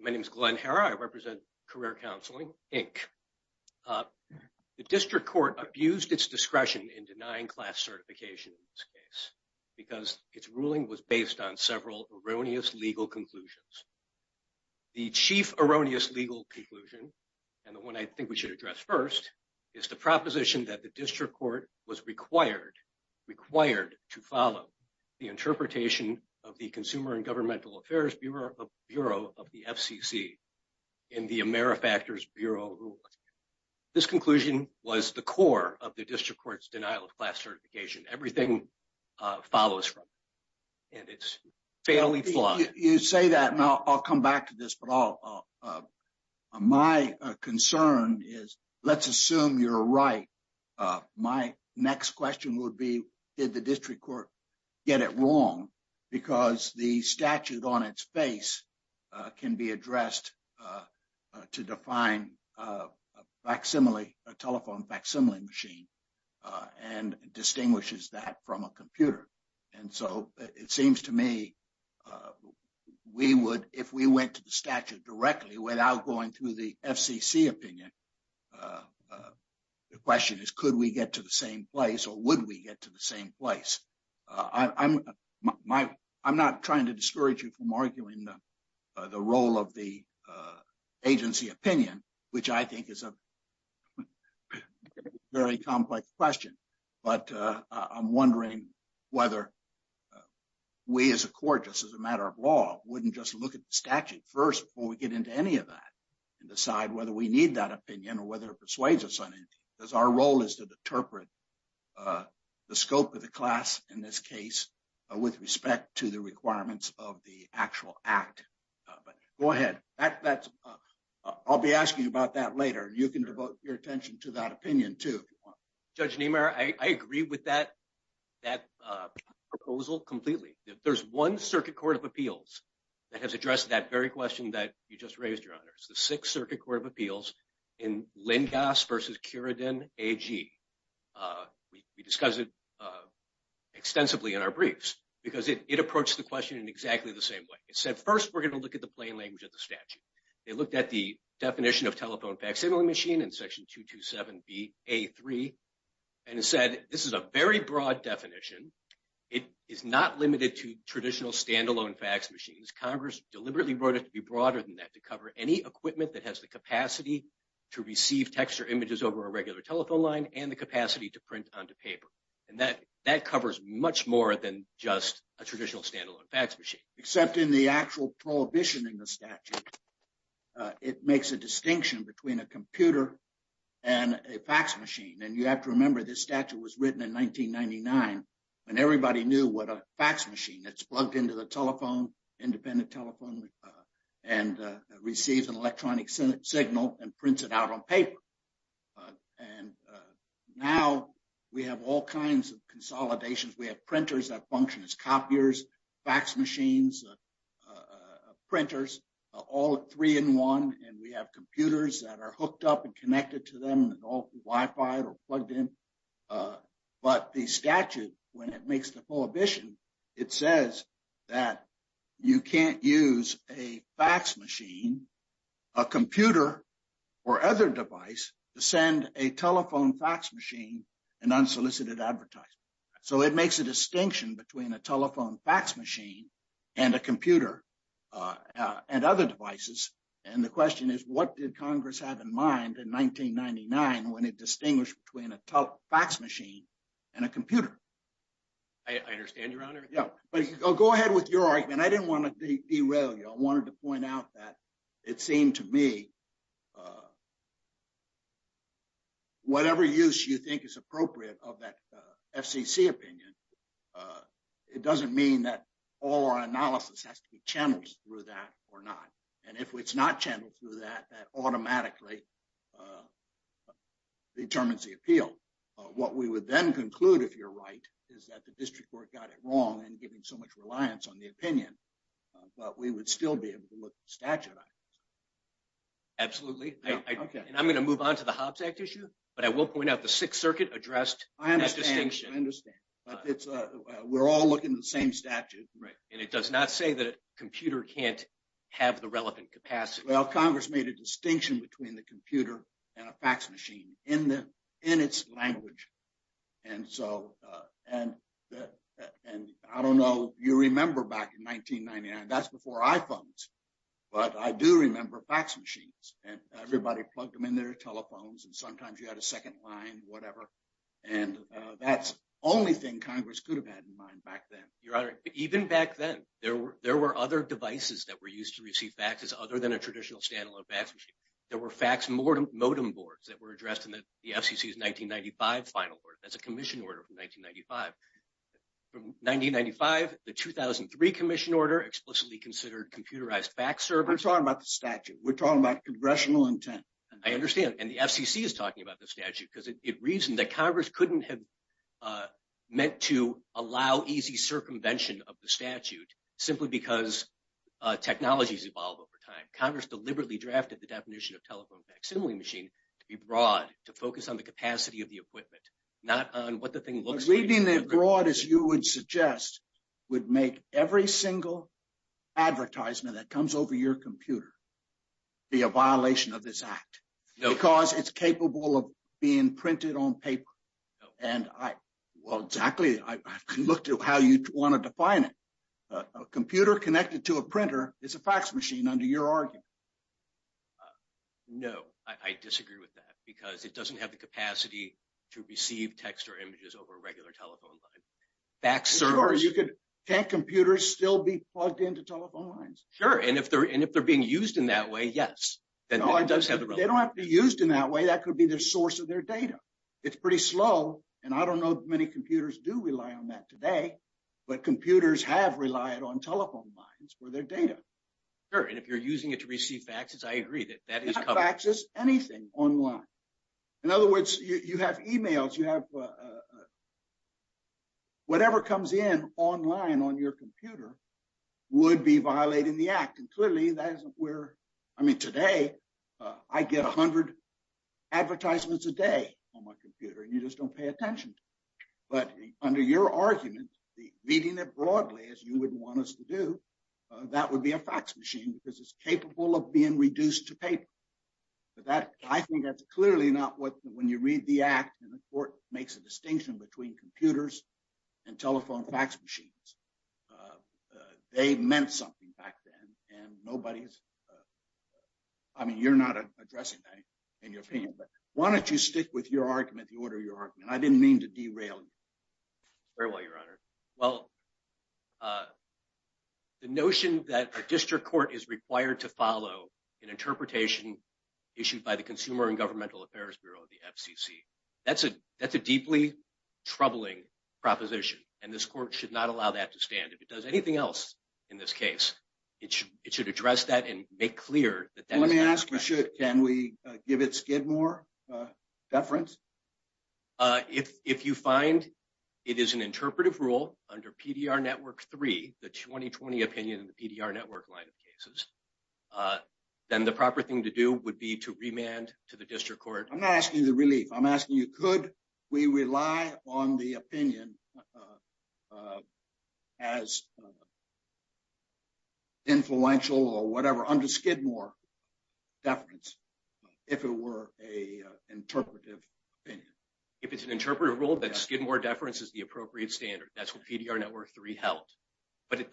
My name is Glenn Herra. I represent Career Counseling, Inc. The District Court abused its discretion in denying class certification in this case because its ruling was based on several erroneous legal conclusions. The chief erroneous legal conclusion, and the one I think we should address first, is the proposition that the District Court was required to follow the interpretation of the Consumer and Governmental Affairs Bureau of the FCC in the Amerifactors Bureau ruling. This conclusion was the core of the District Court's denial of class certification. Everything follows from it, and it's fairly flawed. You say that, and I'll come back to this, but my concern is, let's assume you're right. My next question would be, did the District Court get it wrong? Because the statute on its face can be addressed to define a telephone facsimile machine and distinguishes that from a computer. And so it seems to me, if we went to the statute directly without going through the FCC opinion, the question is, could we get to the same place, or would we get to the same place? I'm not trying to discourage you from arguing the role of the agency opinion, which I think is a very complex question. But I'm wondering whether we as a court, just as a matter of law, wouldn't just look at the statute first before we get into any of that and decide whether we need that opinion or whether it persuades us on it. Because our role is to interpret the scope of the class in this case with respect to the requirements of the actual act. But go ahead. I'll be asking you about that later. You can devote your attention to that opinion, too. Judge Niemeyer, I agree with that proposal completely. There's one Circuit Court of Appeals that has addressed that very question that you just raised, Your Honor. It's the Sixth Circuit Court of Appeals in Lindgas v. Curidon AG. We discussed it extensively in our briefs because it approached the question in exactly the same way. It said, first, we're going to look at the plain language of the statute. It looked at the definition of telephone facsimile machine in Section 227bA3, and it said, this is a very broad definition. It is not limited to traditional standalone fax machines. Congress deliberately wrote it to be broader than that, to cover any equipment that has the capacity to receive text or images over a regular telephone line and the capacity to print onto paper. And that covers much more than just a traditional standalone fax machine. Except in the actual prohibition in the statute, it makes a distinction between a computer and a fax machine. And you have to remember, this statute was written in 1999, and everybody knew what a fax machine, it's plugged into the telephone, independent telephone, and receives an electronic signal and prints it out on paper. And now we have all kinds of consolidations. We have printers that function as copiers, fax machines, printers, all three in one. And we have computers that are hooked up and connected to them and all Wi-Fi or plugged in. But the statute, when it makes the prohibition, it says that you can't use a fax machine, a computer, or other device to send a telephone fax machine and unsolicited advertisement. So it makes a distinction between a telephone fax machine and a computer and other devices. And the question is, what did Congress have in mind in 1999 when it distinguished between a fax machine and a computer? I understand, Your Honor. Yeah, but go ahead with your argument. I didn't want to derail you. I wanted to point out that it seemed to me whatever use you think is appropriate of that FCC opinion, it doesn't mean that all our analysis has to be channeled through that or not. And if it's not channeled through that, that automatically determines the appeal. What we would then conclude, if you're right, is that the district court got it wrong in giving so much reliance on the opinion. But we would still be able to look at the statute. Absolutely. And I'm going to move on to the Hobbs Act issue, but I will point out the Sixth Circuit addressed that distinction. I understand. We're all looking at the same statute. Right. And it does not say that a computer can't have the relevant capacity. Well, Congress made a distinction between the computer and a fax machine in its language. And I don't know if you remember back in 1999. That's before iPhones. But I do remember fax machines. And everybody plugged them in their telephones, and sometimes you had a second line, whatever. And that's the only thing Congress could have had in mind back then. Your Honor, even back then, there were other devices that were used to receive faxes other than a traditional standalone fax machine. There were fax modem boards that were addressed in the FCC's 1995 final order. That's a commission order from 1995. From 1995, the 2003 commission order explicitly considered computerized fax servers. We're talking about the statute. We're talking about congressional intent. I understand. And the FCC is talking about the statute because it reasoned that Congress couldn't have meant to allow easy circumvention of the statute simply because technologies evolve over time. Congress deliberately drafted the definition of telephone fax. Similarly, a machine to be broad, to focus on the capacity of the equipment, not on what the thing looks like. Reading it broad, as you would suggest, would make every single advertisement that comes over your computer be a violation of this act. Because it's capable of being printed on paper. And I, well, exactly, I can look to how you want to define it. A computer connected to a printer is a fax machine under your argument. No, I disagree with that. Because it doesn't have the capacity to receive text or images over a regular telephone line. Sure, you could. Can't computers still be plugged into telephone lines? Sure. And if they're being used in that way, yes. No, they don't have to be used in that way. That could be the source of their data. It's pretty slow. And I don't know if many computers do rely on that today. But computers have relied on telephone lines for their data. Sure, and if you're using it to receive faxes, I agree that that is a cover. Not faxes, anything online. In other words, you have emails, you have whatever comes in online on your computer would be violating the act. And clearly, that isn't where, I mean, today, I get 100 advertisements a day on my computer, and you just don't pay attention to it. But under your argument, reading it broadly, as you would want us to do, that would be a fax machine because it's capable of being reduced to paper. But I think that's clearly not what, when you read the act, and the court makes a distinction between computers and telephone fax machines. They meant something back then, and nobody's, I mean, you're not addressing that in your opinion. But why don't you stick with your argument, the order of your argument? I didn't mean to derail you. Very well, Your Honor. Well, the notion that a district court is required to follow an interpretation issued by the Consumer and Governmental Affairs Bureau, the FCC. That's a deeply troubling proposition, and this court should not allow that to stand. If it does anything else in this case, it should address that and make clear that that was not the case. Can we give it Skidmore deference? If you find it is an interpretive rule under PDR Network 3, the 2020 opinion in the PDR Network line of cases, then the proper thing to do would be to remand to the district court. I'm not asking you the relief. I'm asking you, could we rely on the opinion as influential or whatever under Skidmore deference if it were an interpretive opinion? If it's an interpretive rule, then Skidmore deference is the appropriate standard. That's what PDR Network 3 held. But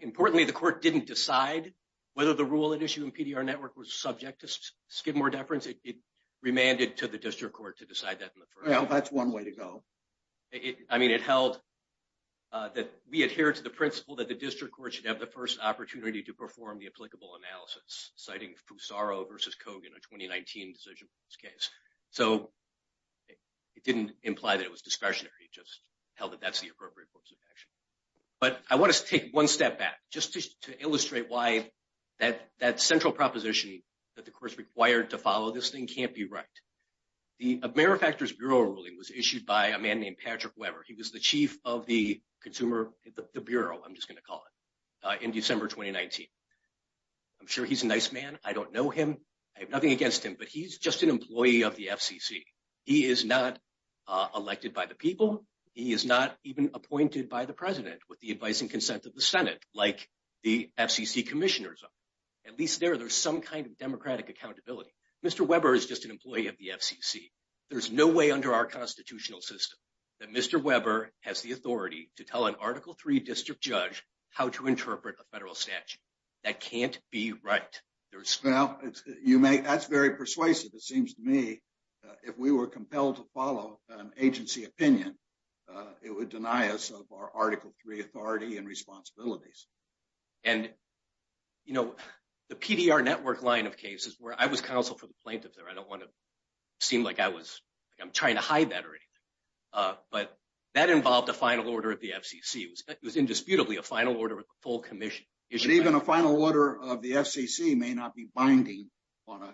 importantly, the court didn't decide whether the rule at issue in PDR Network was subject to Skidmore deference. It remanded to the district court to decide that in the first place. Well, that's one way to go. I mean, it held that we adhere to the principle that the district court should have the first opportunity to perform the applicable analysis, citing Fusaro v. Kogan, a 2019 decision for this case. So it didn't imply that it was discretionary. It just held that that's the appropriate course of action. But I want to take one step back just to illustrate why that central proposition that the court's required to follow this thing can't be right. The manufacturers bureau ruling was issued by a man named Patrick Weber. He was the chief of the consumer, the bureau, I'm just going to call it, in December 2019. I'm sure he's a nice man. I don't know him. I have nothing against him, but he's just an employee of the FCC. He is not elected by the people. He is not even appointed by the president with the advice and consent of the Senate, like the FCC commissioners. At least there, there's some kind of democratic accountability. Mr. Weber is just an employee of the FCC. There's no way under our constitutional system that Mr. Weber has the authority to tell an Article 3 district judge how to interpret a federal statute. That can't be right. Well, that's very persuasive. It seems to me if we were compelled to follow agency opinion, it would deny us of our Article 3 authority and responsibilities. And, you know, the PDR network line of cases where I was counsel for the plaintiff there, I don't want to seem like I'm trying to hide that or anything. But that involved a final order of the FCC. It was indisputably a final order of the full commission. Even a final order of the FCC may not be binding on an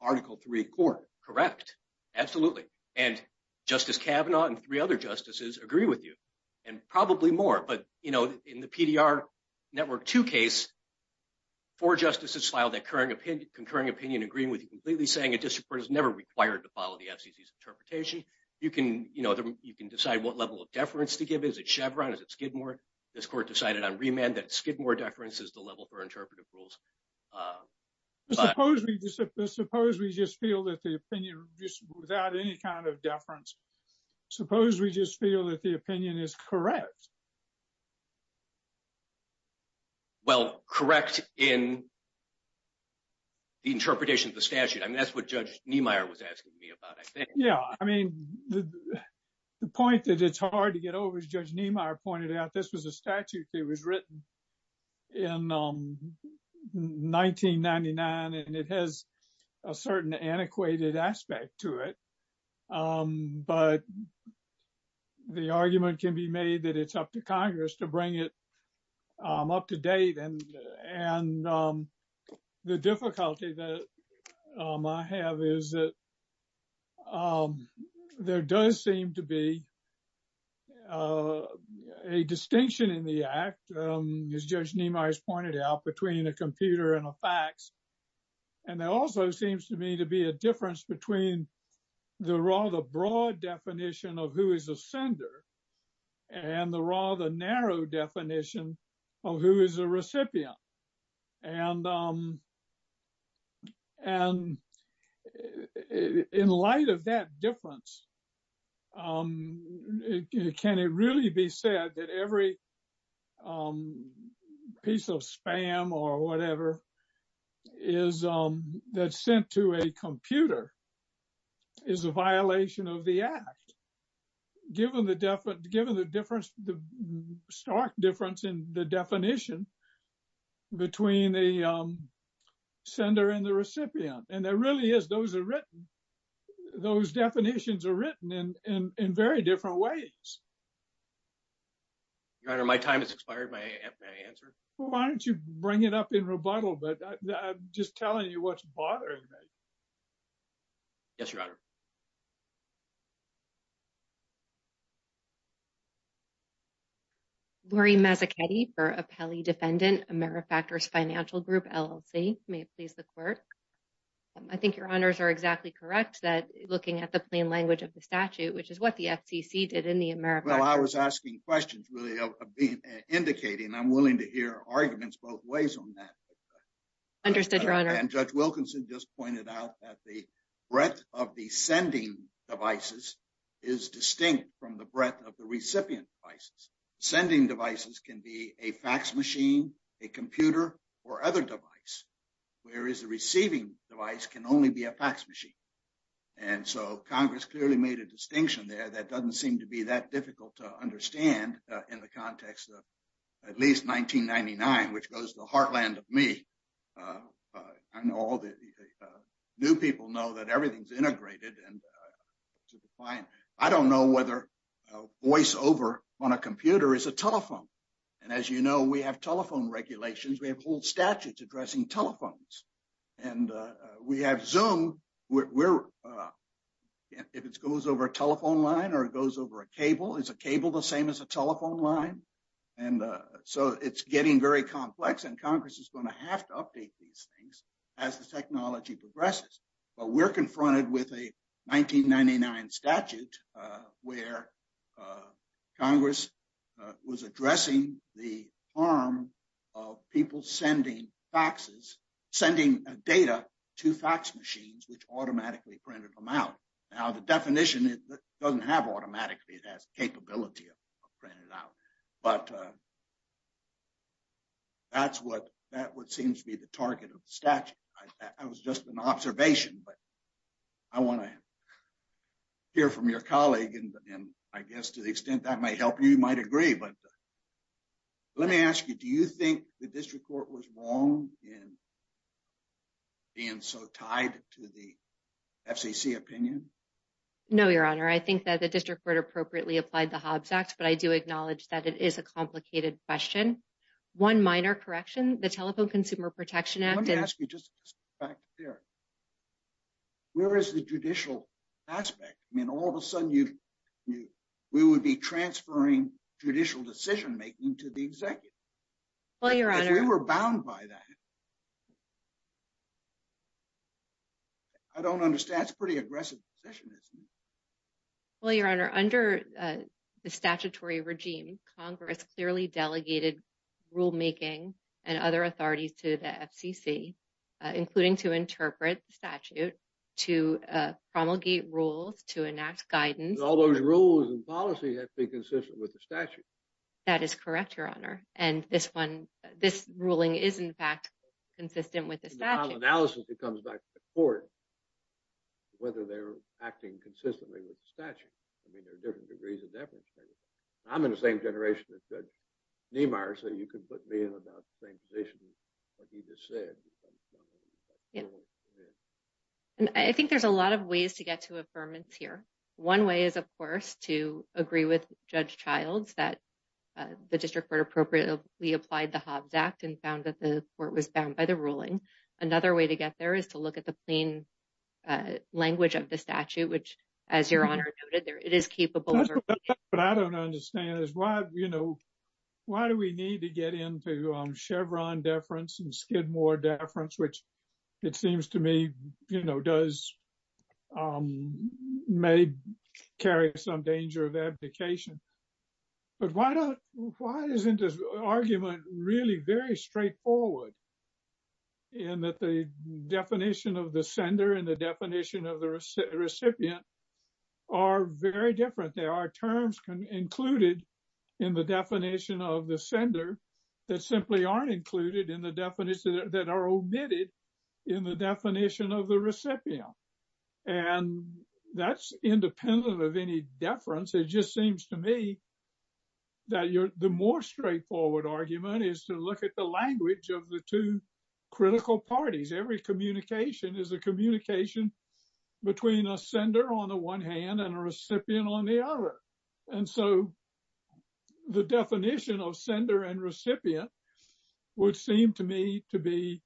Article 3 court. Correct. Absolutely. And Justice Kavanaugh and three other justices agree with you and probably more. But, you know, in the PDR network 2 case, four justices filed a concurring opinion agreeing with you completely saying a district court is never required to follow the FCC's interpretation. You can decide what level of deference to give. Is it Chevron? Is it Skidmore? This court decided on remand that Skidmore deference is the level for interpretive rules. Suppose we just feel that the opinion without any kind of deference, suppose we just feel that the opinion is correct. Well, correct in the interpretation of the statute. I mean, that's what Judge Niemeyer was asking me about. Yeah, I mean, the point that it's hard to get over, as Judge Niemeyer pointed out, this was a statute that was written in 1999, and it has a certain antiquated aspect to it. But the argument can be made that it's up to Congress to bring it up to date. And the difficulty that I have is that there does seem to be a distinction in the act, as Judge Niemeyer has pointed out, between a computer and a fax. And there also seems to me to be a difference between the rather broad definition of who is a sender and the rather narrow definition of who is a recipient. And in light of that difference, can it really be said that every piece of spam or whatever that's sent to a computer is a violation of the act? Given the stark difference in the definition between the sender and the recipient, and there really is, those definitions are written in very different ways. Your Honor, my time has expired. May I answer? Why don't you bring it up in rebuttal? But I'm just telling you what's bothering me. Yes, Your Honor. Laurie Mazzachetti for Apelli Defendant, AmeriFactors Financial Group, LLC. May it please the Court? I think Your Honors are exactly correct that looking at the plain language of the statute, which is what the FCC did in the AmeriFactors. Well, I was asking questions, really, of being indicated, and I'm willing to hear arguments both ways on that. Understood, Your Honor. And Judge Wilkinson just pointed out that the breadth of the sending devices is distinct from the breadth of the recipient devices. Sending devices can be a fax machine, a computer, or other device, whereas the receiving device can only be a fax machine. And so, Congress clearly made a distinction there that doesn't seem to be that difficult to understand in the context of at least 1999, which goes to the heartland of me. I know all the new people know that everything's integrated and superfine. I don't know whether voiceover on a computer is a telephone. And as you know, we have telephone regulations. We have whole statutes addressing telephones. And we have Zoom. If it goes over a telephone line or it goes over a cable, is a cable the same as a telephone line? And so it's getting very complex, and Congress is going to have to update these things as the technology progresses. But we're confronted with a 1999 statute where Congress was addressing the harm of people sending faxes, sending data to fax machines, which automatically printed them out. Now, the definition doesn't have automatically. It has capability of printing it out. But that's what seems to be the target of the statute. I was just an observation, but I want to hear from your colleague. And I guess to the extent that might help you, you might agree. But let me ask you, do you think the district court was wrong in being so tied to the FCC opinion? No, Your Honor. I think that the district court appropriately applied the Hobbs Act. But I do acknowledge that it is a complicated question. One minor correction, the Telephone Consumer Protection Act. Let me ask you just back there, where is the judicial aspect? I mean, all of a sudden, we would be transferring judicial decision making to the executive. Well, Your Honor. If we were bound by that, I don't understand. That's a pretty aggressive position, isn't it? Well, Your Honor, under the statutory regime, Congress clearly delegated rulemaking and other authorities to the FCC, including to interpret the statute, to promulgate rules, to enact guidance. All those rules and policy have to be consistent with the statute. That is correct, Your Honor. And this one, this ruling is, in fact, consistent with the statute. The analysis that comes back to the court, whether they're acting consistently with the statute. I mean, there are different degrees of deference. I'm in the same generation as Judge Niemeyer, so you could put me in about the same position that he just said. And I think there's a lot of ways to get to affirmance here. One way is, of course, to agree with Judge Childs that the district court appropriately applied the Hobbs Act and found that the court was bound by the ruling. Another way to get there is to look at the plain language of the statute, which, as Your Honor noted, it is capable. But I don't understand is why, you know, why do we need to get into Chevron deference and Skidmore deference, which it seems to me, you know, does may carry some danger of abdication. But why don't, why isn't this argument really very straightforward? And that the definition of the sender and the definition of the recipient are very different. There are terms included in the definition of the sender that simply aren't included in the definition, that are omitted in the definition of the recipient. And that's independent of any deference. It just seems to me that the more straightforward argument is to look at the language of the two critical parties. Every communication is a communication between a sender on the one hand and a recipient on the other. And so the definition of sender and recipient would seem to me to be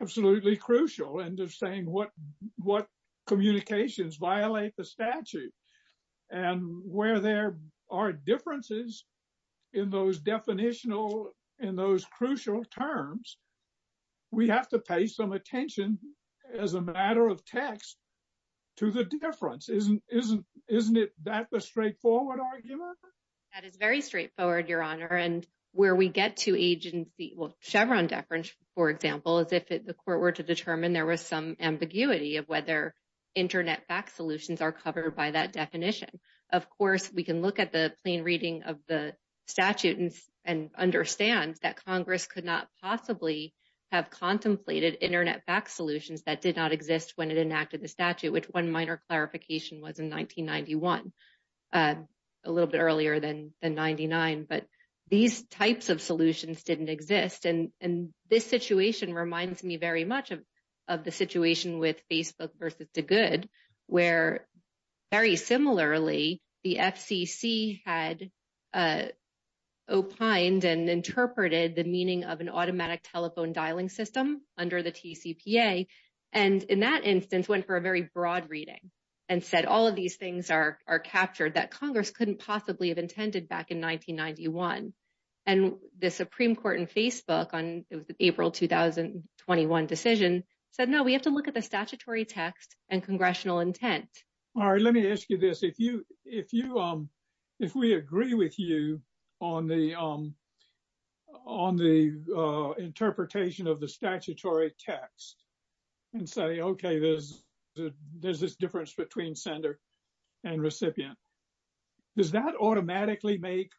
absolutely crucial. And just saying what what communications violate the statute and where there are differences in those definitional, in those crucial terms, we have to pay some attention as a matter of text to the difference. Isn't isn't isn't it that the straightforward argument? That is very straightforward, Your Honor. And where we get to agency Chevron deference, for example, is if the court were to determine there was some ambiguity of whether Internet fax solutions are covered by that definition. Of course, we can look at the plain reading of the statute and understand that Congress could not possibly have contemplated Internet fax solutions that did not exist when it enacted the statute, which one minor clarification was in 1991, a little bit earlier than the ninety nine. But these types of solutions didn't exist. And this situation reminds me very much of of the situation with Facebook versus the good, where very similarly, the FCC had opined and interpreted the meaning of an automatic telephone dialing system under the TCPA. And in that instance, went for a very broad reading and said all of these things are are captured that Congress couldn't possibly have intended back in 1991. And the Supreme Court in Facebook on April two thousand twenty one decision said, no, we have to look at the statutory text and congressional intent. All right. Let me ask you this. If you if you if we agree with you on the. On the interpretation of the statutory text and say, OK, there's there's this difference between sender and recipient. Does that automatically make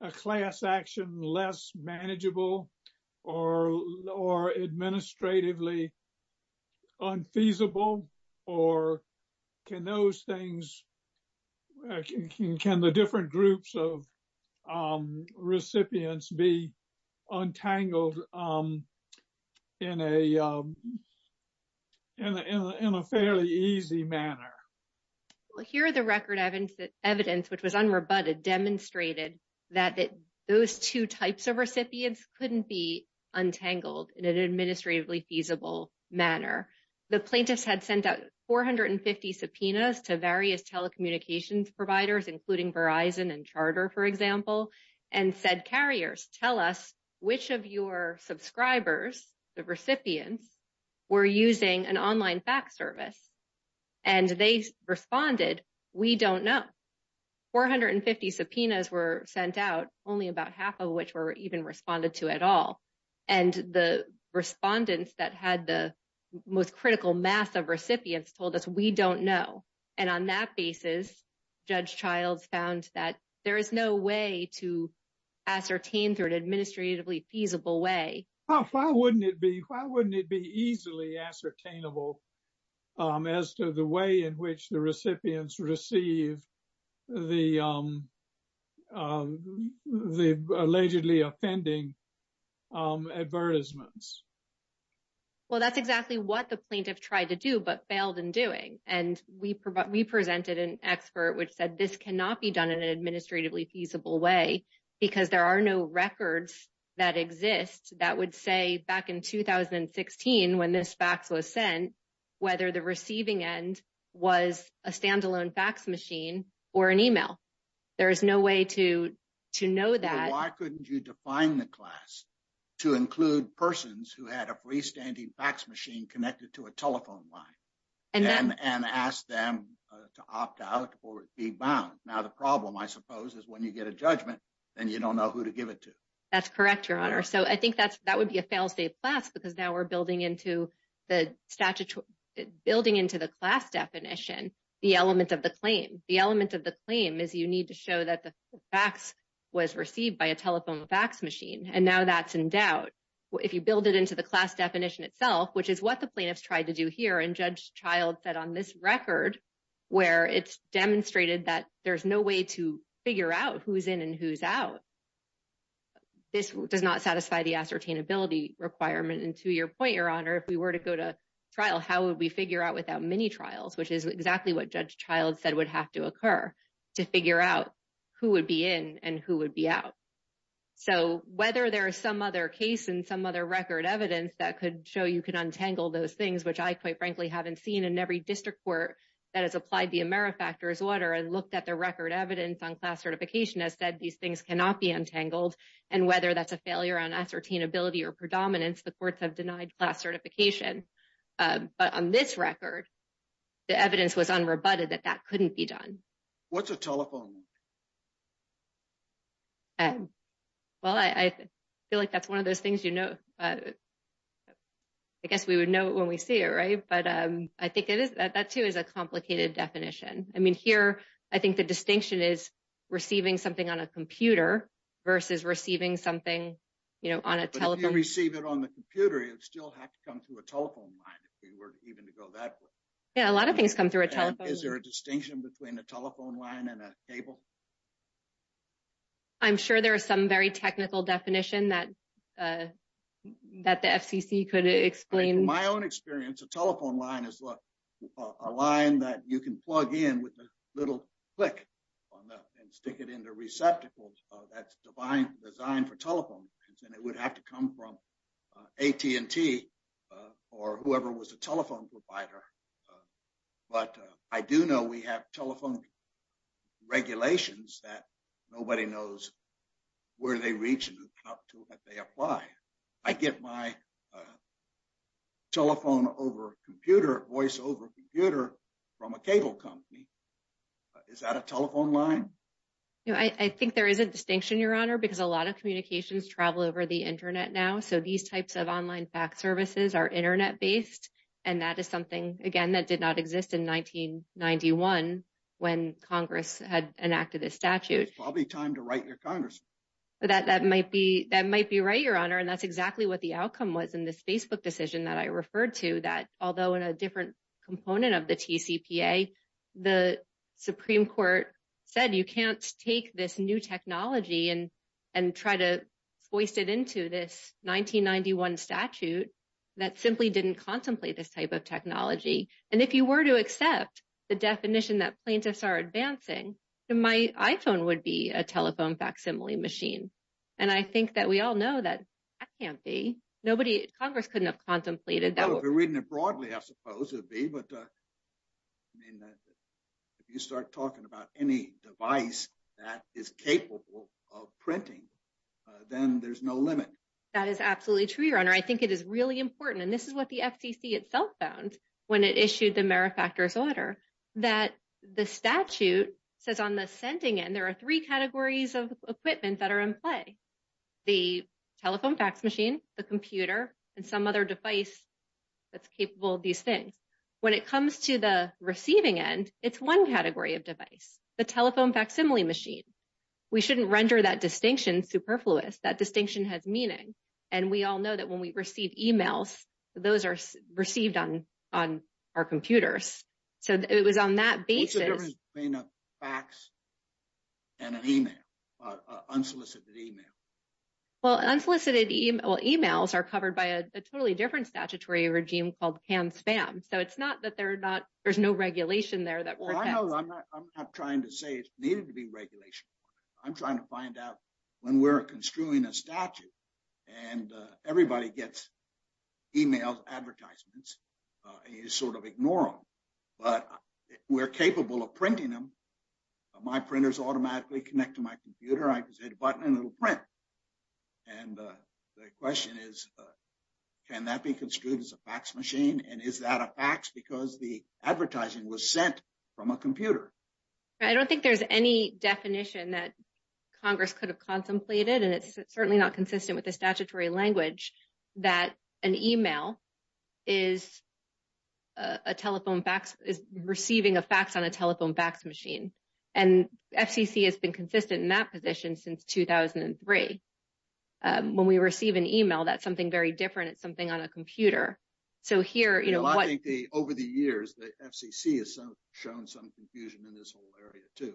a class action less manageable or or administratively? Unfeasible or can those things can the different groups of recipients be untangled in a. And in a fairly easy manner. Well, here are the record evidence that evidence, which was unrebutted, demonstrated that that those two types of recipients couldn't be untangled in an administratively feasible manner. The plaintiffs had sent out four hundred and fifty subpoenas to various telecommunications providers, including Verizon and Charter, for example, and said carriers, tell us which of your subscribers. The recipients were using an online fax service and they responded, we don't know. Four hundred and fifty subpoenas were sent out, only about half of which were even responded to at all. And the respondents that had the most critical mass of recipients told us we don't know. And on that basis, Judge Childs found that there is no way to ascertain through an administratively feasible way. Why wouldn't it be? Why wouldn't it be easily ascertainable as to the way in which the recipients receive the allegedly offending advertisements? Well, that's exactly what the plaintiff tried to do, but failed in doing. And we we presented an expert which said this cannot be done in an administratively feasible way because there are no records that exist that would say back in 2016 when this fax was sent, whether the receiving end was a standalone fax machine or an email. There is no way to to know that. Why couldn't you define the class to include persons who had a freestanding fax machine connected to a telephone line and ask them to opt out or be bound? Now, the problem, I suppose, is when you get a judgment and you don't know who to give it to. That's correct, Your Honor. So I think that's that would be a failsafe class because now we're building into the statute, building into the class definition, the element of the claim. The element of the claim is you need to show that the fax was received by a telephone fax machine. And now that's in doubt if you build it into the class definition itself, which is what the plaintiffs tried to do here. And Judge Child said on this record where it's demonstrated that there's no way to figure out who's in and who's out. This does not satisfy the ascertainability requirement. And to your point, Your Honor, if we were to go to trial, how would we figure out without many trials, which is exactly what Judge Child said would have to occur to figure out who would be in and who would be out. So whether there is some other case and some other record evidence that could show you can untangle those things, which I quite frankly haven't seen in every district court that has applied the AmeriFactors order and looked at the record evidence on class certification has said these things cannot be untangled. And whether that's a failure on ascertainability or predominance, the courts have denied class certification. But on this record, the evidence was unrebutted that that couldn't be done. What's a telephone line? Well, I feel like that's one of those things, you know, I guess we would know when we see it, right? But I think that too is a complicated definition. I mean, here, I think the distinction is receiving something on a computer versus receiving something, you know, on a telephone. But if you receive it on the computer, it would still have to come through a telephone line if we were even to go that way. Is there a distinction between a telephone line and a cable? I'm sure there are some very technical definition that the FCC could explain. In my own experience, a telephone line is a line that you can plug in with a little click on that and stick it into receptacles. That's designed for telephone. And it would have to come from AT&T or whoever was a telephone provider. But I do know we have telephone regulations that nobody knows where they reach and how they apply. I get my telephone over a computer, voice over a computer from a cable company. Is that a telephone line? I think there is a distinction, Your Honor, because a lot of communications travel over the Internet now. So these types of online fax services are Internet-based. And that is something, again, that did not exist in 1991 when Congress had enacted this statute. It's probably time to write your Congress. That might be right, Your Honor, and that's exactly what the outcome was in this Facebook decision that I referred to, that although in a different component of the TCPA, the Supreme Court said you can't take this new technology and try to hoist it into this 1991 statute that simply didn't contemplate this type of technology. And if you were to accept the definition that plaintiffs are advancing, my iPhone would be a telephone facsimile machine. And I think that we all know that that can't be. Congress couldn't have contemplated that. If you're reading it broadly, I suppose it would be. But if you start talking about any device that is capable of printing, then there's no limit. That is absolutely true, Your Honor. I think it is really important. And this is what the FCC itself found when it issued the Merrifactors Order, that the statute says on the sending end, there are three categories of equipment that are in play, the telephone fax machine, the computer, and some other device that's capable of these things. When it comes to the receiving end, it's one category of device, the telephone facsimile machine. We shouldn't render that distinction superfluous. That distinction has meaning. And we all know that when we receive emails, those are received on our computers. So it was on that basis. What's the difference between a fax and an email, unsolicited email? Well, unsolicited emails are covered by a totally different statutory regime called CAN-SPAM. So it's not that there's no regulation there. I'm not trying to say it needed to be regulation. I'm trying to find out when we're construing a statute and everybody gets emails, advertisements, and you sort of ignore them. But we're capable of printing them. My printers automatically connect to my computer. I just hit a button and it'll print. And the question is, can that be construed as a fax machine? And is that a fax because the advertising was sent from a computer? I don't think there's any definition that Congress could have contemplated. And it's certainly not consistent with the statutory language that an email is receiving a fax on a telephone fax machine. And FCC has been consistent in that position since 2003. When we receive an email, that's something very different. It's something on a computer. Over the years, the FCC has shown some confusion in this whole area, too.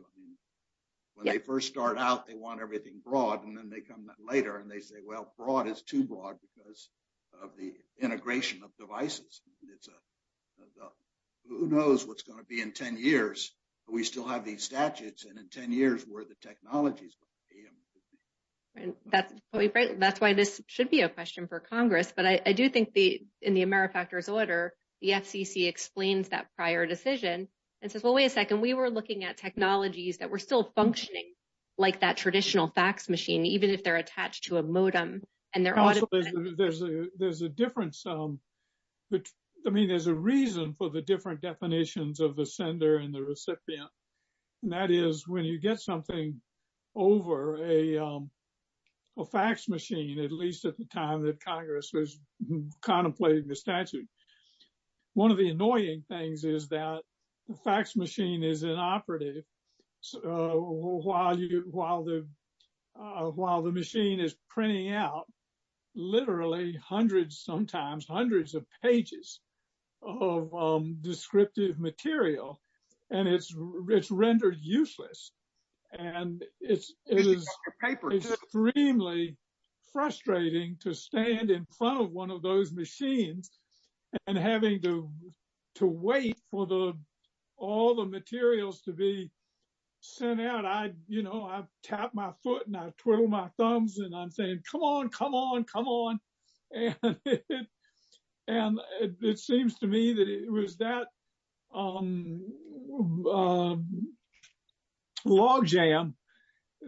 When they first start out, they want everything broad. And then they come later and they say, well, broad is too broad because of the integration of devices. Who knows what's going to be in 10 years? We still have these statutes. And in 10 years, where are the technologies? That's why this should be a question for Congress. But I do think in the AmeriFactors order, the FCC explains that prior decision and says, well, wait a second. We were looking at technologies that were still functioning like that traditional fax machine, even if they're attached to a modem. There's a difference. I mean, there's a reason for the different definitions of the sender and the recipient. And that is when you get something over a fax machine, at least at the time that Congress was contemplating the statute, one of the annoying things is that the fax machine is inoperative. While the machine is printing out literally hundreds, sometimes hundreds of pages of descriptive material, and it's rendered useless. And it is extremely frustrating to stand in front of one of those machines and having to wait for all the materials to be sent out. I tap my foot and I twiddle my thumbs and I'm saying, come on, come on, come on. And it seems to me that it was that logjam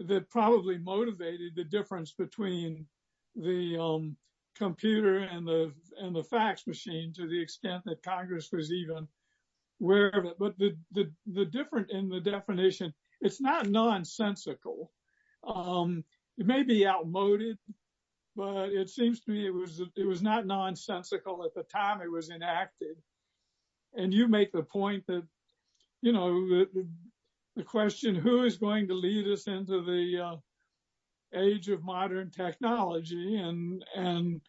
that probably motivated the difference between the computer and the fax machine to the extent that Congress was even aware of it. But the difference in the definition, it's not nonsensical. It may be outmoded, but it seems to me it was not nonsensical at the time it was enacted. And you make the point that, you know, the question who is going to lead us into the age of modern technology and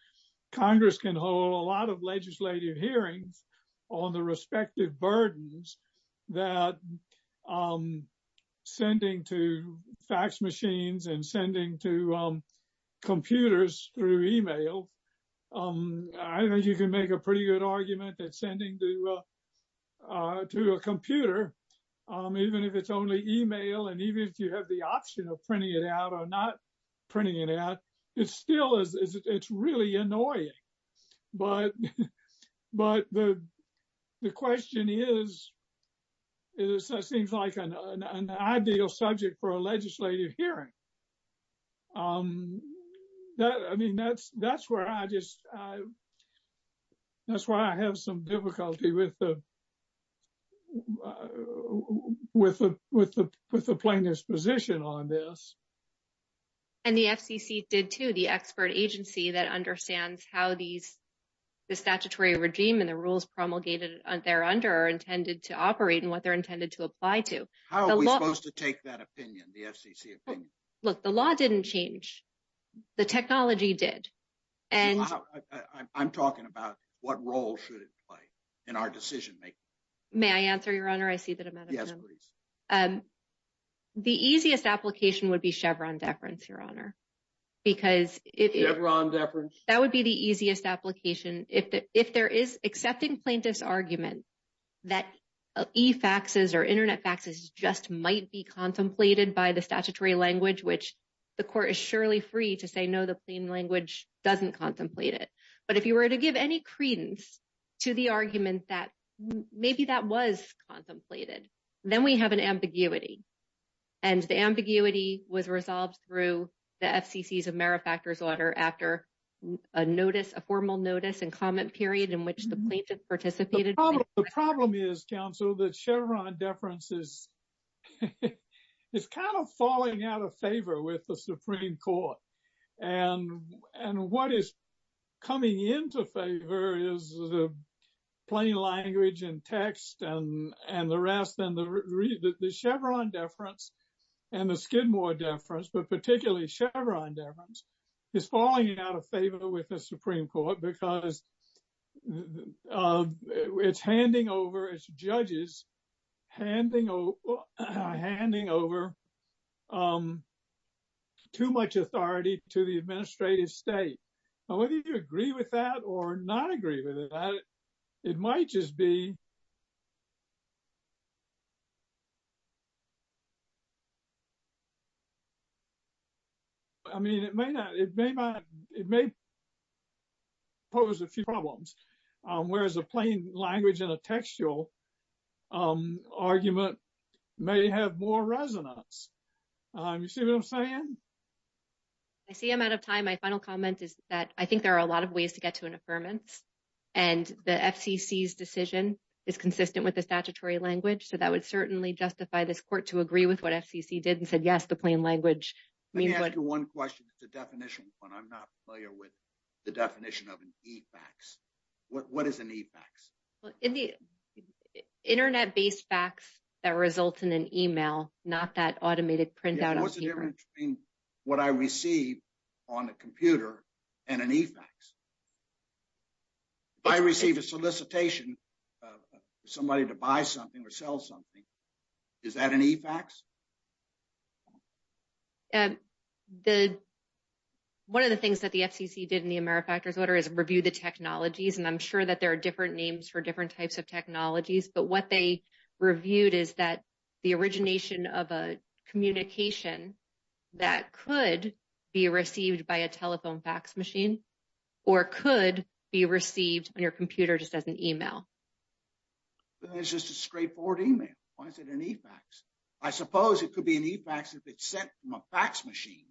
Congress can hold a lot of legislative hearings on the respective burdens that sending to fax machines and sending to computers through email. I think you can make a pretty good argument that sending to a computer, even if it's only email, and even if you have the option of printing it out or not printing it out, it's still, it's really annoying. But the question is, it seems like an ideal subject for a legislative hearing. I mean, that's where I just, that's why I have some difficulty with the plaintiff's position on this. And the FCC did too, the expert agency that understands how these, the statutory regime and the rules promulgated there under are intended to operate and what they're intended to apply to. How are we supposed to take that opinion, the FCC opinion? Look, the law didn't change. The technology did. I'm talking about what role should it play in our decision-making. May I answer, Your Honor? I see that I'm out of time. Yes, please. The easiest application would be Chevron deference, Your Honor. Chevron deference. That would be the easiest application. If there is accepting plaintiff's argument that e-faxes or internet faxes just might be contemplated by the statutory language, which the court is surely free to say, no, the plain language doesn't contemplate it. But if you were to give any credence to the argument that maybe that was contemplated, then we have an ambiguity. And the ambiguity was resolved through the FCC's AmeriFactors order after a notice, a formal notice and comment period in which the plaintiff participated. The problem is, counsel, that Chevron deference is kind of falling out of favor with the Supreme Court. And what is coming into favor is the plain language and text and the rest and the Chevron deference and the Skidmore deference. But particularly Chevron deference is falling out of favor with the Supreme Court because it's handing over its judges, handing over too much authority to the administrative state. Whether you agree with that or not agree with it, it might just be. I mean, it may not. It may not. It may pose a few problems, whereas a plain language and a textual argument may have more resonance. You see what I'm saying? I see I'm out of time. My final comment is that I think there are a lot of ways to get to an affirmance. And the FCC's decision is consistent with the statutory language. So that would certainly justify this court to agree with what FCC did and said, yes, the plain language. Let me ask you one question. It's a definition one. I'm not familiar with the definition of an e-fax. What is an e-fax? Internet based fax that results in an email, not that automated printout. What's the difference between what I receive on a computer and an e-fax? If I receive a solicitation, somebody to buy something or sell something, is that an e-fax? One of the things that the FCC did in the AmeriFactors order is review the technologies. And I'm sure that there are different names for different types of technologies. But what they reviewed is that the origination of a communication that could be received by a telephone fax machine or could be received on your computer just as an email. Then it's just a straightforward email. Why is it an e-fax? I suppose it could be an e-fax if it's sent from a fax machine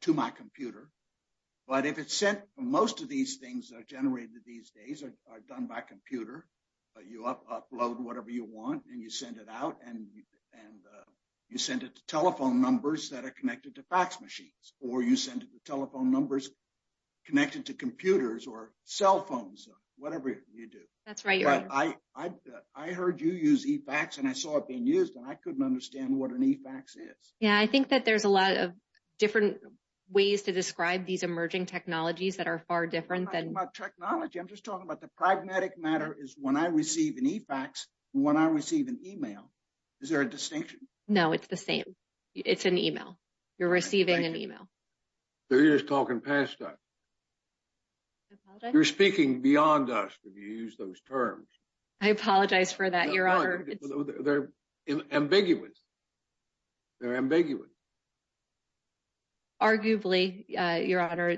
to my computer. But if it's sent, most of these things that are generated these days are done by computer. You upload whatever you want and you send it out and you send it to telephone numbers that are connected to fax machines. Or you send it to telephone numbers connected to computers or cell phones, whatever you do. That's right. I heard you use e-fax and I saw it being used and I couldn't understand what an e-fax is. Yeah, I think that there's a lot of different ways to describe these emerging technologies that are far different than... I'm not talking about technology. I'm just talking about the pragmatic matter is when I receive an e-fax and when I receive an email, is there a distinction? No, it's the same. It's an email. You're receiving an email. You're just talking past time. I apologize. You're speaking beyond us if you use those terms. I apologize for that, Your Honor. They're ambiguous. They're ambiguous. Arguably, Your Honor.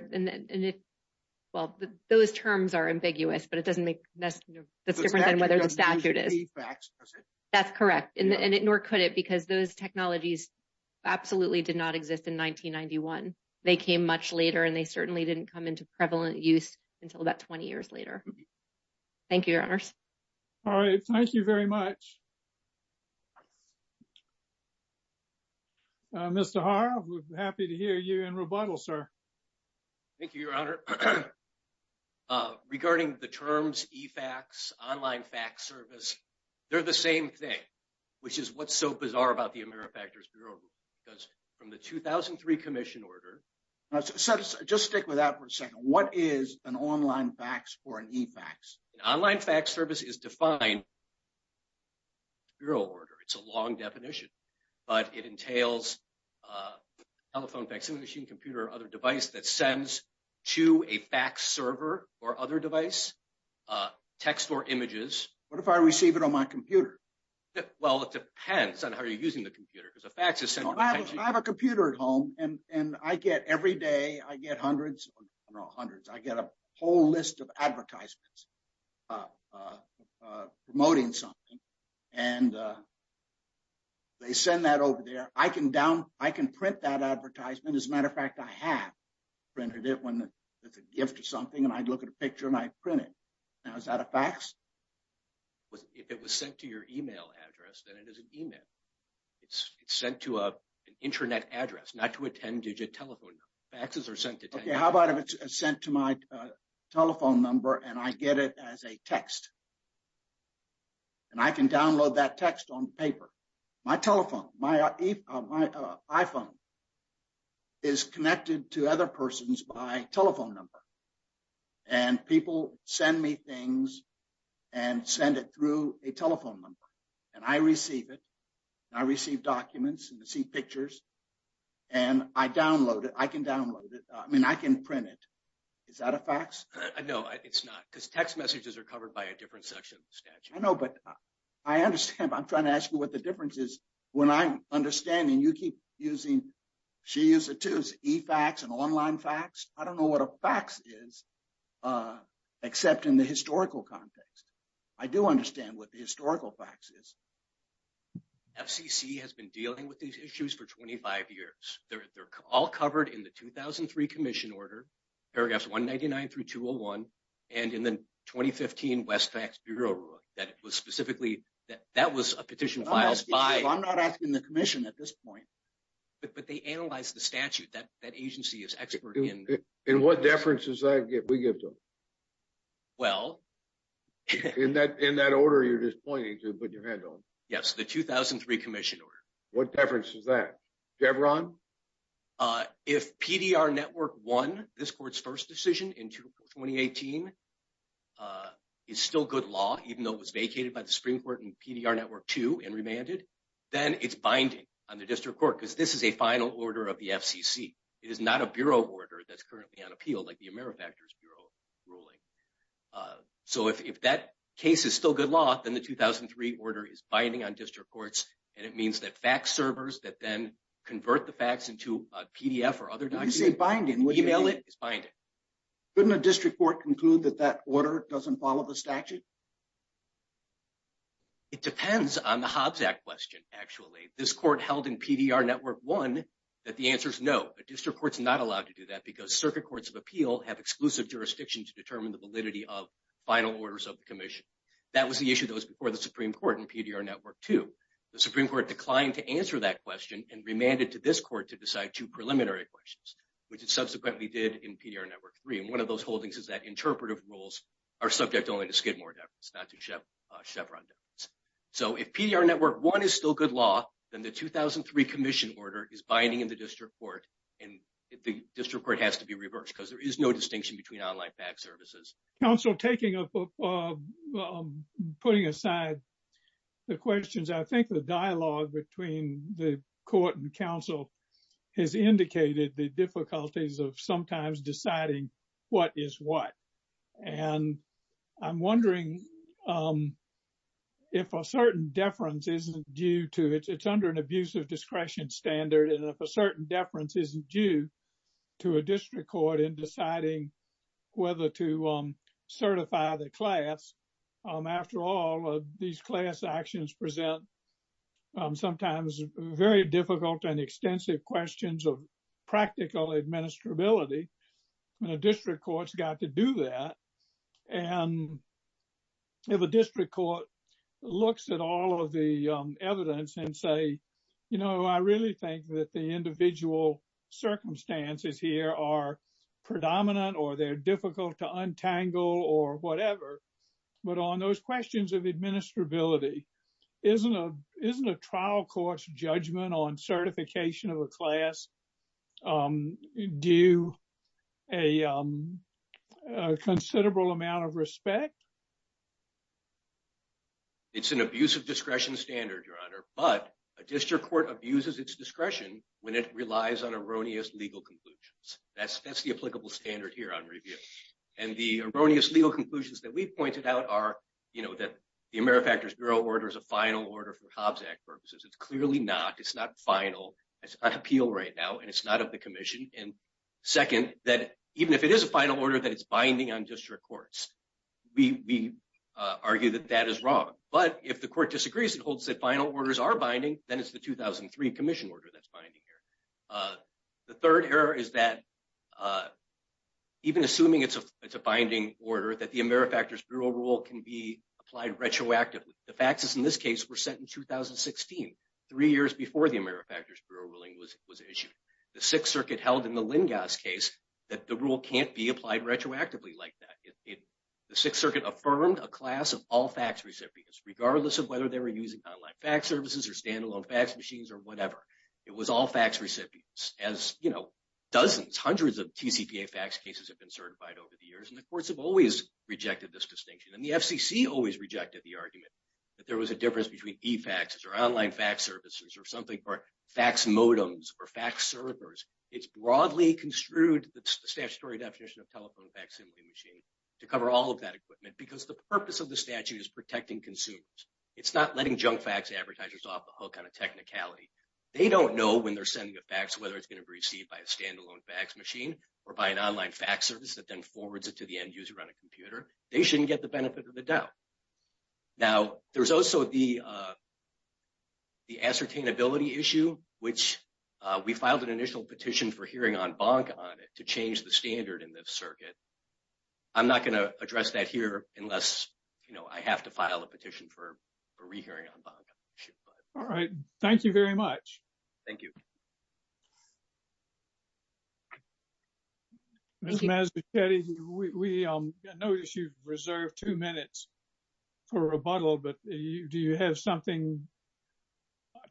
Well, those terms are ambiguous, but it doesn't make that's different than whether the statute is. The statute doesn't use e-fax, does it? That's correct, and it nor could it because those technologies absolutely did not exist in 1991. They came much later and they certainly didn't come into prevalent use until about 20 years later. Thank you, Your Honors. All right. Thank you very much. Mr. Harve, we're happy to hear you in rebuttal, sir. Thank you, Your Honor. Regarding the terms e-fax, online fax service, they're the same thing, which is what's so bizarre about the AmeriFactors Bureau. Because from the 2003 commission order... Just stick with that for a second. What is an online fax or an e-fax? An online fax service is defined in the Bureau order. It's a long definition, but it entails telephone, vaccine machine, computer or other device that sends to a fax server or other device, text or images. What if I receive it on my computer? Well, it depends on how you're using the computer because a fax is sent... I have a computer at home and every day I get hundreds, I don't know hundreds, I get a whole list of advertisements promoting something. And they send that over there. I can print that advertisement. As a matter of fact, I have printed it when it's a gift or something and I'd look at a picture and I'd print it. Now, is that a fax? If it was sent to your email address, then it is an email. It's sent to an internet address, not to a 10-digit telephone number. Faxes are sent to... Okay, how about if it's sent to my telephone number and I get it as a text? And I can download that text on paper. My telephone, my iPhone is connected to other persons by telephone number. And people send me things and send it through a telephone number. And I receive it. I receive documents and I see pictures. And I download it. I can download it. I mean, I can print it. Is that a fax? No, it's not because text messages are covered by a different section of the statute. I know, but I understand. I'm trying to ask you what the difference is. When I'm understanding, you keep using... She uses it too, e-fax and online fax. I don't know what a fax is except in the historical context. I do understand what the historical fax is. FCC has been dealing with these issues for 25 years. They're all covered in the 2003 Commission Order, paragraphs 199 through 201, and in the 2015 Westfax Bureau Rule. That was specifically... That was a petition filed by... I'm not asking the Commission at this point. But they analyzed the statute. That agency is expert in... And what deference does that give? We give them. Well... In that order, you're just pointing to it, but you're handling it. Yes, the 2003 Commission Order. What deference is that? Devron? If PDR Network 1, this court's first decision in 2018, is still good law, even though it was vacated by the Supreme Court in PDR Network 2 and remanded, then it's binding on the district court because this is a final order of the FCC. It is not a bureau order that's currently on appeal, like the AmeriFactors Bureau ruling. So if that case is still good law, then the 2003 order is binding on district courts, and it means that fax servers that then convert the fax into a PDF or other document... When you say binding, what do you mean? Email it, it's binding. Couldn't a district court conclude that that order doesn't follow the statute? It depends on the Hobbs Act question, actually. This court held in PDR Network 1 that the answer's no. A district court's not allowed to do that because circuit courts of appeal have exclusive jurisdiction to determine the validity of final orders of the Commission. That was the issue that was before the Supreme Court in PDR Network 2. The Supreme Court declined to answer that question and remanded to this court to decide two preliminary questions, which it subsequently did in PDR Network 3. And one of those holdings is that interpretive rules are subject only to Skidmore deference, not to Chevron deference. So if PDR Network 1 is still good law, then the 2003 Commission order is binding in the district court, and the district court has to be reversed because there is no distinction between online fax services. Counselor, putting aside the questions, I think the dialogue between the court and counsel has indicated the difficulties of sometimes deciding what is what. And I'm wondering if a certain deference isn't due to it. It's under an abuse of discretion standard, and if a certain deference isn't due to a district court in deciding whether to certify the class. After all, these class actions present sometimes very difficult and extensive questions of practical administrability, and a district court's got to do that. And if a district court looks at all of the evidence and say, you know, I really think that the individual circumstances here are predominant or they're difficult to untangle or whatever, but on those questions of administrability, isn't a trial court's judgment on certification of a class due a considerable amount of respect? It's an abuse of discretion standard, Your Honor, but a district court abuses its discretion when it relies on erroneous legal conclusions. That's the applicable standard here on review. And the erroneous legal conclusions that we pointed out are, you know, that the AmeriFactors Bureau order is a final order for Hobbs Act purposes. It's clearly not. It's not final. It's on appeal right now, and it's not of the Commission. And second, that even if it is a final order, that it's binding on district courts. We argue that that is wrong. But if the court disagrees and holds that final orders are binding, then it's the 2003 Commission order that's binding here. The third error is that even assuming it's a binding order, that the AmeriFactors Bureau rule can be applied retroactively. The faxes in this case were sent in 2016, three years before the AmeriFactors Bureau ruling was issued. The Sixth Circuit held in the Lingas case that the rule can't be applied retroactively like that. The Sixth Circuit affirmed a class of all fax recipients, regardless of whether they were using online fax services or standalone fax machines or whatever. It was all fax recipients. As, you know, dozens, hundreds of TCPA fax cases have been certified over the years, and the courts have always rejected this distinction. And the FCC always rejected the argument that there was a difference between e-faxes or online fax services or something for fax modems or fax servers. It's broadly construed, the statutory definition of telephone fax assembly machine, to cover all of that equipment because the purpose of the statute is protecting consumers. It's not letting junk fax advertisers off the hook on a technicality. They don't know when they're sending a fax whether it's going to be received by a standalone fax machine or by an online fax service that then forwards it to the end user on a computer. They shouldn't get the benefit of the doubt. Now, there's also the ascertainability issue, which we filed an initial petition for hearing en banc on it to change the standard in this circuit. I'm not going to address that here unless, you know, I have to file a petition for a re-hearing en banc. All right. Thank you very much. Thank you. Ms. Mazzucatti, we notice you've reserved two minutes for rebuttal, but do you have something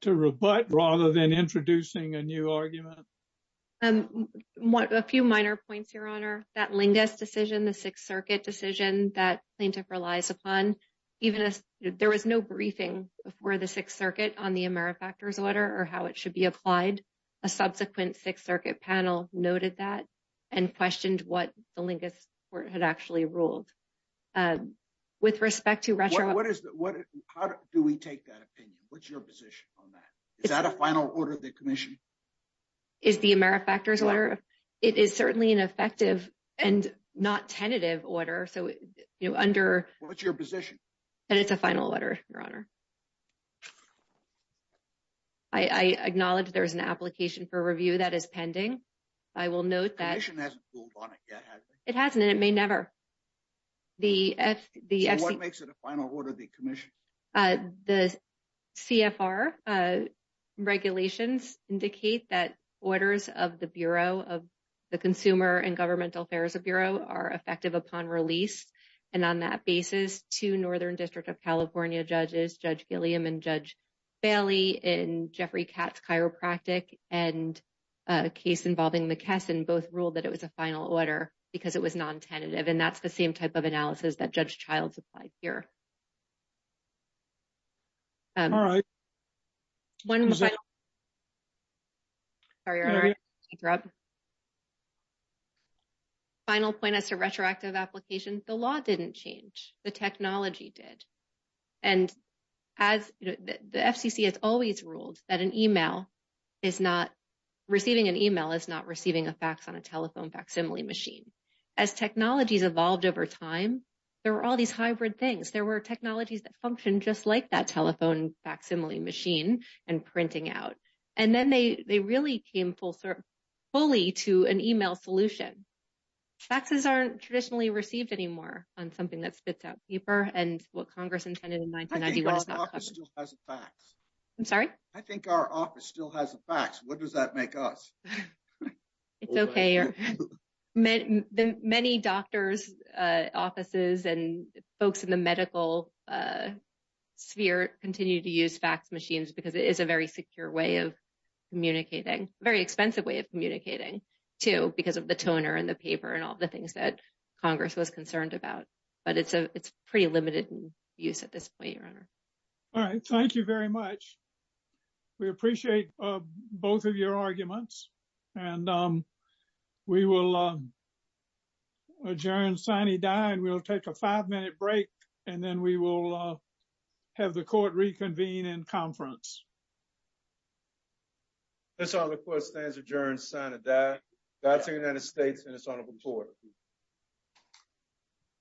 to rebut rather than introducing a new argument? A few minor points, Your Honor. That Lingus decision, the Sixth Circuit decision that plaintiff relies upon, even as there was no briefing before the Sixth Circuit on the AmeriFactors order or how it should be applied, a subsequent Sixth Circuit panel noted that and questioned what the Lingus court had actually ruled. With respect to retro— How do we take that opinion? What's your position on that? Is that a final order of the commission? Is the AmeriFactors order? It is certainly an effective and not tentative order. What's your position? And it's a final order, Your Honor. I acknowledge there's an application for review that is pending. I will note that— The commission hasn't ruled on it yet, has it? It hasn't, and it may never. What makes it a final order of the commission? The CFR regulations indicate that orders of the Bureau of the Consumer and Governmental Affairs of Bureau are effective upon release. And on that basis, two Northern District of California judges, Judge Gilliam and Judge Bailey in Jeffrey Katz Chiropractic and a case involving McKesson both ruled that it was a final order because it was non-tentative. And that's the same type of analysis that Judge Childs applied here. All right. Sorry, Your Honor. Thank you, Rob. Final point as to retroactive application, the law didn't change. The technology did. And as the FCC has always ruled that an email is not— receiving an email is not receiving a fax on a telephone facsimile machine. As technologies evolved over time, there were all these hybrid things. There were technologies that functioned just like that telephone facsimile machine and printing out. And then they really came fully to an email solution. Faxes aren't traditionally received anymore on something that spits out paper and what Congress intended in 1991. I think our office still has a fax. I'm sorry? I think our office still has a fax. What does that make us? It's okay. Many doctors' offices and folks in the medical sphere continue to use fax machines because it is a very secure way of communicating, a very expensive way of communicating, too, because of the toner and the paper and all the things that Congress was concerned about. But it's pretty limited in use at this point, Your Honor. All right. Thank you very much. We appreciate both of your arguments. And we will adjourn sine die. And we'll take a five-minute break. And then we will have the Court reconvene in conference. That's all. The Court stands adjourned sine die. God save the United States and His Honorable Court.